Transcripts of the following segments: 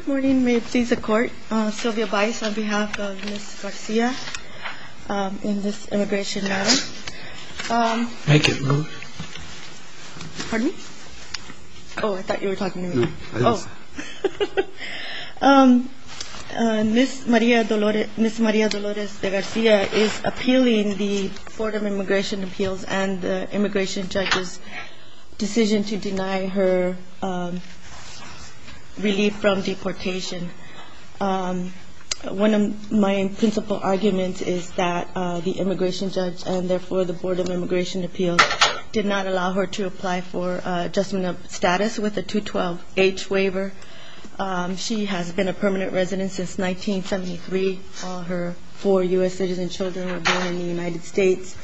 Good morning, may it please the court. Sylvia Baez on behalf of Ms. Garcia in this immigration matter. Thank you. Pardon? Oh, I thought you were talking to me. No, I wasn't. Ms. Maria Dolores de Garcia is appealing the Board of Immigration Appeals and the immigration judge's decision to deny her relief from deportation. One of my principal arguments is that the immigration judge and therefore the Board of Immigration Appeals did not allow her to apply for adjustment of status with a 212H waiver. She has been a permanent resident since 1973. All her four U.S. citizens children were born in the United States.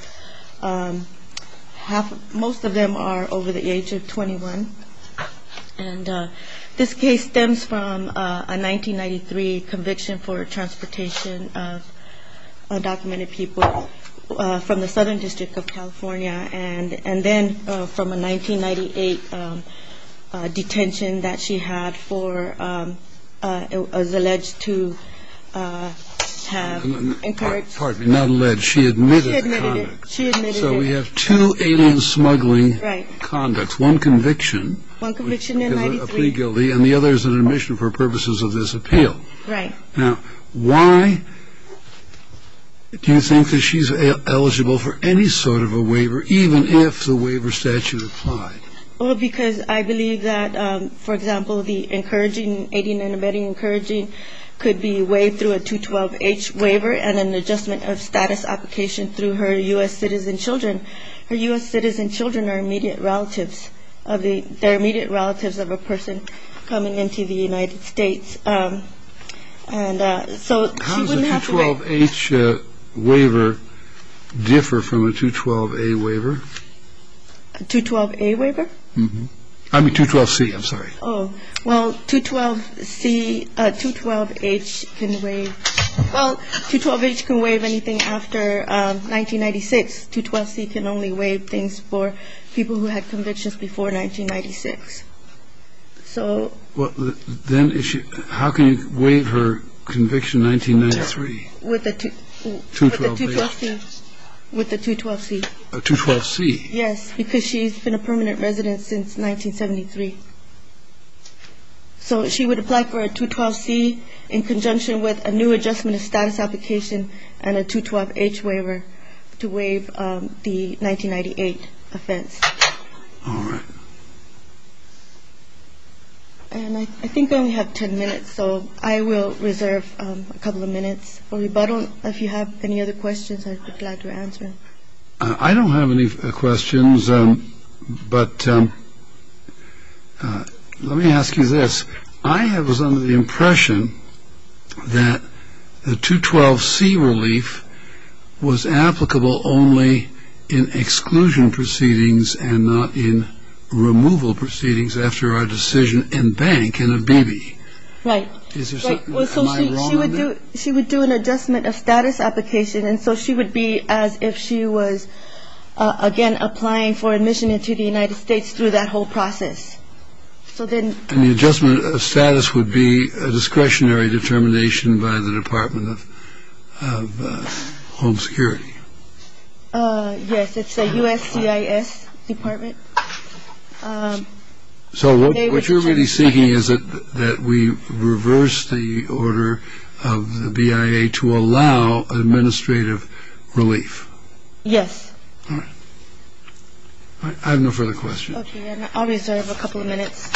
Most of them are over the age of 21. And this case stems from a 1993 conviction for transportation of undocumented people from the Southern District of California. And then from a 1998 detention that she had for alleged to have encouraged. Pardon me, not alleged, she admitted it. She admitted it. So we have two alien smuggling conducts, one conviction. One conviction in 93. And the other is an admission for purposes of this appeal. Right. Now, why do you think that she's eligible for any sort of a waiver, even if the waiver statute applied? Well, because I believe that, for example, the encouraging, aiding and abetting encouraging could be waived through a 212H waiver and an adjustment of status application through her U.S. citizen children. Her U.S. citizen children are immediate relatives of the immediate relatives of a person coming into the United States. And so she wouldn't have to wait. How does a 212H waiver differ from a 212A waiver? A 212A waiver? Oh, well, 212C, 212H can waive. Well, 212H can waive anything after 1996. 212C can only waive things for people who had convictions before 1996. So. Well, then how can you waive her conviction 1993? With the 212C. With the 212C. A 212C. Yes, because she's been a permanent resident since 1973. So she would apply for a 212C in conjunction with a new adjustment of status application and a 212H waiver to waive the 1998 offense. All right. And I think I only have 10 minutes, so I will reserve a couple of minutes for rebuttal. If you have any other questions, I'd be glad to answer. I don't have any questions, but let me ask you this. I was under the impression that the 212C relief was applicable only in exclusion proceedings and not in removal proceedings after a decision in bank in a BB. Am I wrong on that? She would do she would do an adjustment of status application. And so she would be as if she was, again, applying for admission into the United States through that whole process. So then the adjustment of status would be a discretionary determination by the Department of Home Security. Yes, it's a USCIS department. So what you're really seeking is that we reverse the order of the BIA to allow administrative relief. Yes. All right. I have no further questions. Okay. And I'll reserve a couple of minutes.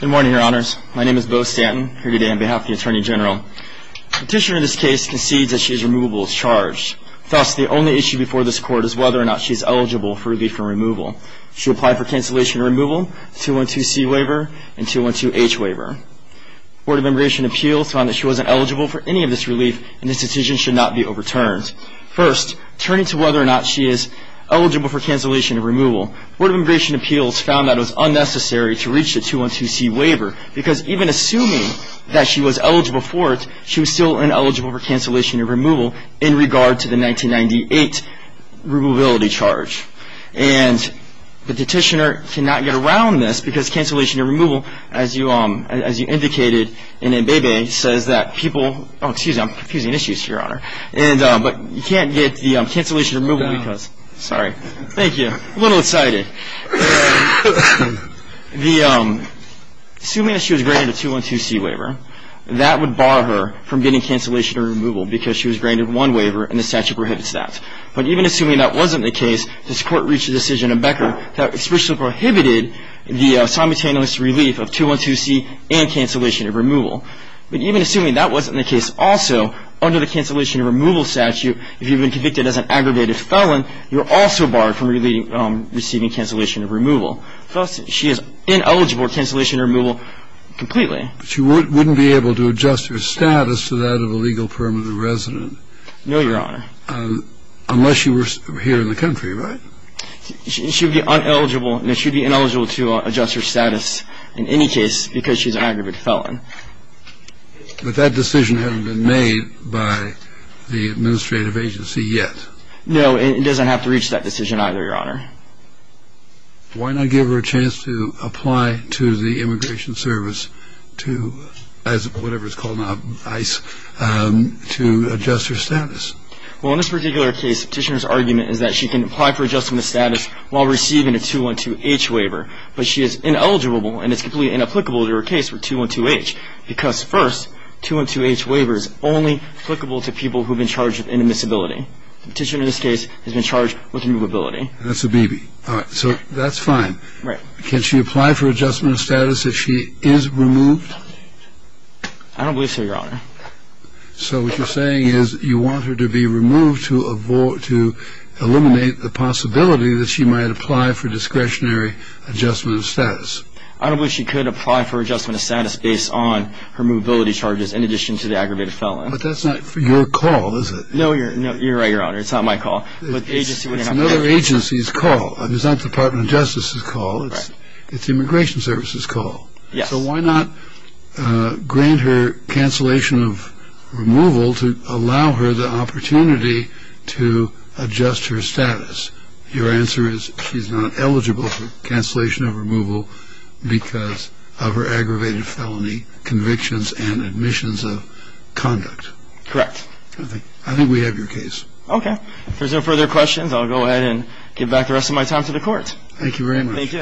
Good morning, Your Honors. My name is Bo Stanton. I'm here today on behalf of the Attorney General. The petitioner in this case concedes that she is removable as charged. Thus, the only issue before this Court is whether or not she is eligible for relief and removal. She applied for cancellation and removal, 212C waiver, and 212H waiver. The Board of Immigration Appeals found that she wasn't eligible for any of this relief, and this decision should not be overturned. First, turning to whether or not she is eligible for cancellation and removal, the Board of Immigration Appeals found that it was unnecessary to reach the 212C waiver because even assuming that she was eligible for it, she was still ineligible for cancellation and removal in regard to the 1998 removability charge. And the petitioner cannot get around this because cancellation and removal, as you indicated in MBEBE, says that people – oh, excuse me. I'm confusing issues, Your Honor. But you can't get the cancellation and removal because – sorry. Thank you. A little excited. The – assuming that she was granted a 212C waiver, that would bar her from getting cancellation and removal because she was granted one waiver and the statute prohibits that. But even assuming that wasn't the case, this Court reached a decision in Becker that especially prohibited the simultaneous relief of 212C and cancellation and removal. But even assuming that wasn't the case also, under the cancellation and removal statute, if you've been convicted as an aggravated felon, you're also barred from receiving cancellation and removal. Thus, she is ineligible for cancellation and removal completely. But she wouldn't be able to adjust her status to that of a legal permanent resident. No, Your Honor. Unless she were here in the country, right? She would be ineligible to adjust her status in any case because she's an aggravated felon. But that decision hasn't been made by the administrative agency yet. No, it doesn't have to reach that decision either, Your Honor. Why not give her a chance to apply to the Immigration Service to – as whatever it's called now, ICE – to adjust her status? Well, in this particular case, Petitioner's argument is that she can apply for adjusting the status while receiving a 212H waiver, but she is ineligible and it's completely inapplicable to her case with 212H because first, 212H waiver is only applicable to people who have been charged with inadmissibility. Petitioner in this case has been charged with removability. That's a B.B. All right, so that's fine. Right. Can she apply for adjustment of status if she is removed? I don't believe so, Your Honor. So what you're saying is you want her to be removed to avoid – to eliminate the possibility that she might apply for discretionary adjustment of status. I don't believe she could apply for adjustment of status based on her movability charges in addition to the aggravated felon. But that's not your call, is it? No, you're right, Your Honor. It's not my call. It's another agency's call. It's not the Department of Justice's call. It's the Immigration Service's call. Yes. So why not grant her cancellation of removal to allow her the opportunity to adjust her status? Your answer is she's not eligible for cancellation of removal because of her aggravated felony convictions and admissions of conduct. Correct. I think we have your case. Okay. If there's no further questions, I'll go ahead and give back the rest of my time to the Court. Thank you very much. Thank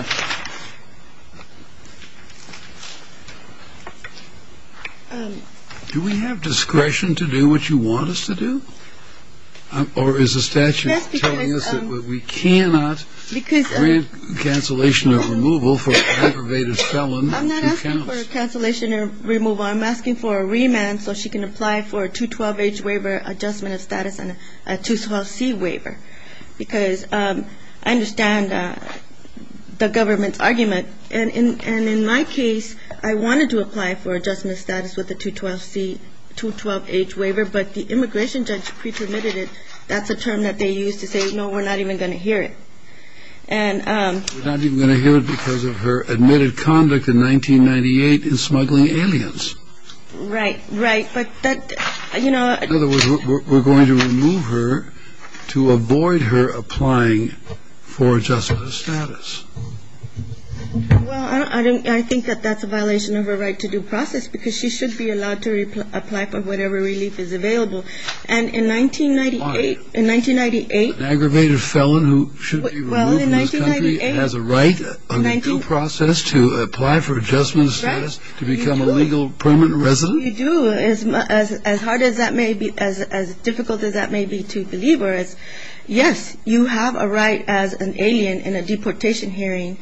you. Do we have discretion to do what you want us to do? Or is the statute telling us that we cannot grant cancellation of removal for aggravated felon? I'm not asking for cancellation of removal. I'm asking for a remand so she can apply for a 212-H waiver, adjustment of status, and a 212-C waiver because I understand the government's argument. And in my case, I wanted to apply for adjustment of status with a 212-H waiver, but the immigration judge pre-permitted it. That's a term that they used to say, no, we're not even going to hear it. We're not even going to hear it because of her admitted conduct in 1998 in smuggling aliens. Right, right. In other words, we're going to remove her to avoid her applying for adjustment of status. Well, I think that that's a violation of her right to due process because she should be allowed to apply for whatever relief is available. And in 1998, an aggravated felon who should be removed from this country has a right under due process to apply for adjustment of status to become a legal permanent resident? You do. As hard as that may be, as difficult as that may be to believers, yes, you have a right as an alien in a deportation hearing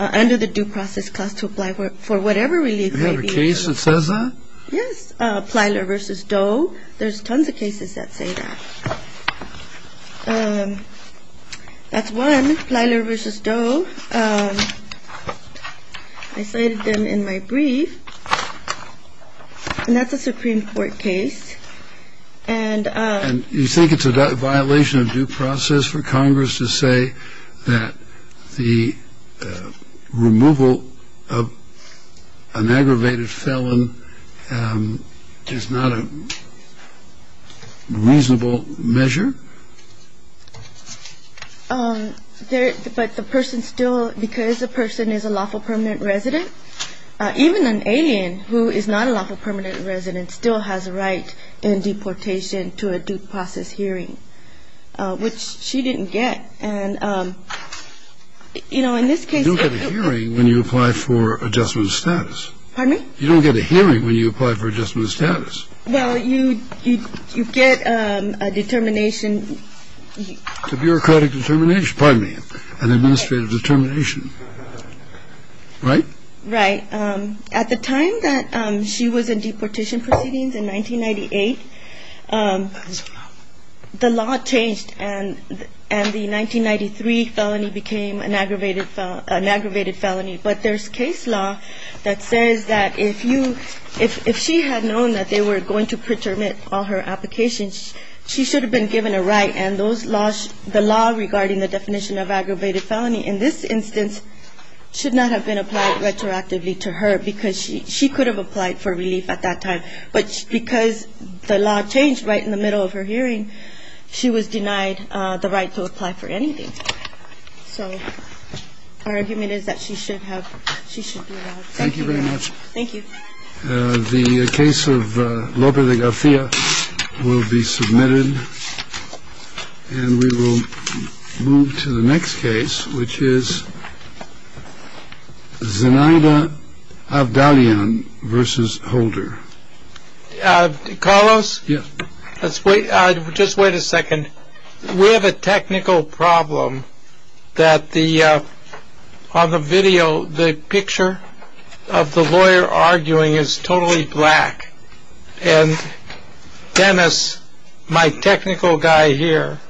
under the due process clause to apply for whatever relief may be. You have a case that says that? Yes, Plyler v. Doe. There's tons of cases that say that. That's one, Plyler v. Doe. I cited them in my brief. And that's a Supreme Court case. And you think it's a violation of due process for Congress to say that the removal of an aggravated felon is not a reasonable measure? But the person still, because the person is a lawful permanent resident, even an alien who is not a lawful permanent resident still has a right in deportation to a due process hearing, which she didn't get. You don't get a hearing when you apply for adjustment of status. Pardon me? You don't get a hearing when you apply for adjustment of status. Well, you get a determination. It's a bureaucratic determination. Pardon me. An administrative determination. Right? Right. At the time that she was in deportation proceedings in 1998, the law changed and the 1993 felony became an aggravated felony. But there's case law that says that if she had known that they were going to pretermine all her applications, she should have been given a right. And the law regarding the definition of aggravated felony in this instance should not have been applied retroactively to her because she could have applied for relief at that time. But because the law changed right in the middle of her hearing, she was denied the right to apply for anything. So our argument is that she should have. Thank you very much. Thank you. The case of Lope de Garcia will be submitted and we will move to the next case, which is Zinaida Abdalion versus Holder. Carlos. Yes. Let's wait. Just wait a second. We have a technical problem that on the video, the picture of the lawyer arguing is totally black. And Dennis, my technical guy here,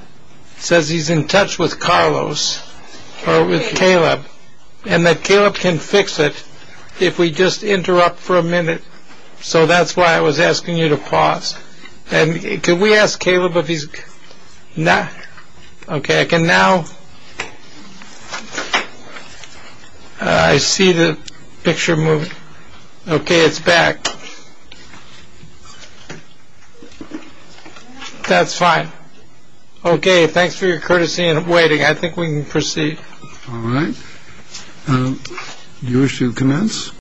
says he's in touch with Carlos or with Caleb and that Caleb can fix it if we just interrupt for a minute. So that's why I was asking you to pause. And can we ask Caleb if he's not? Okay. And now I see the picture moving. Okay. It's back. That's fine. Okay. Thanks for your courtesy and waiting. I think we can proceed. All right. You wish to commence?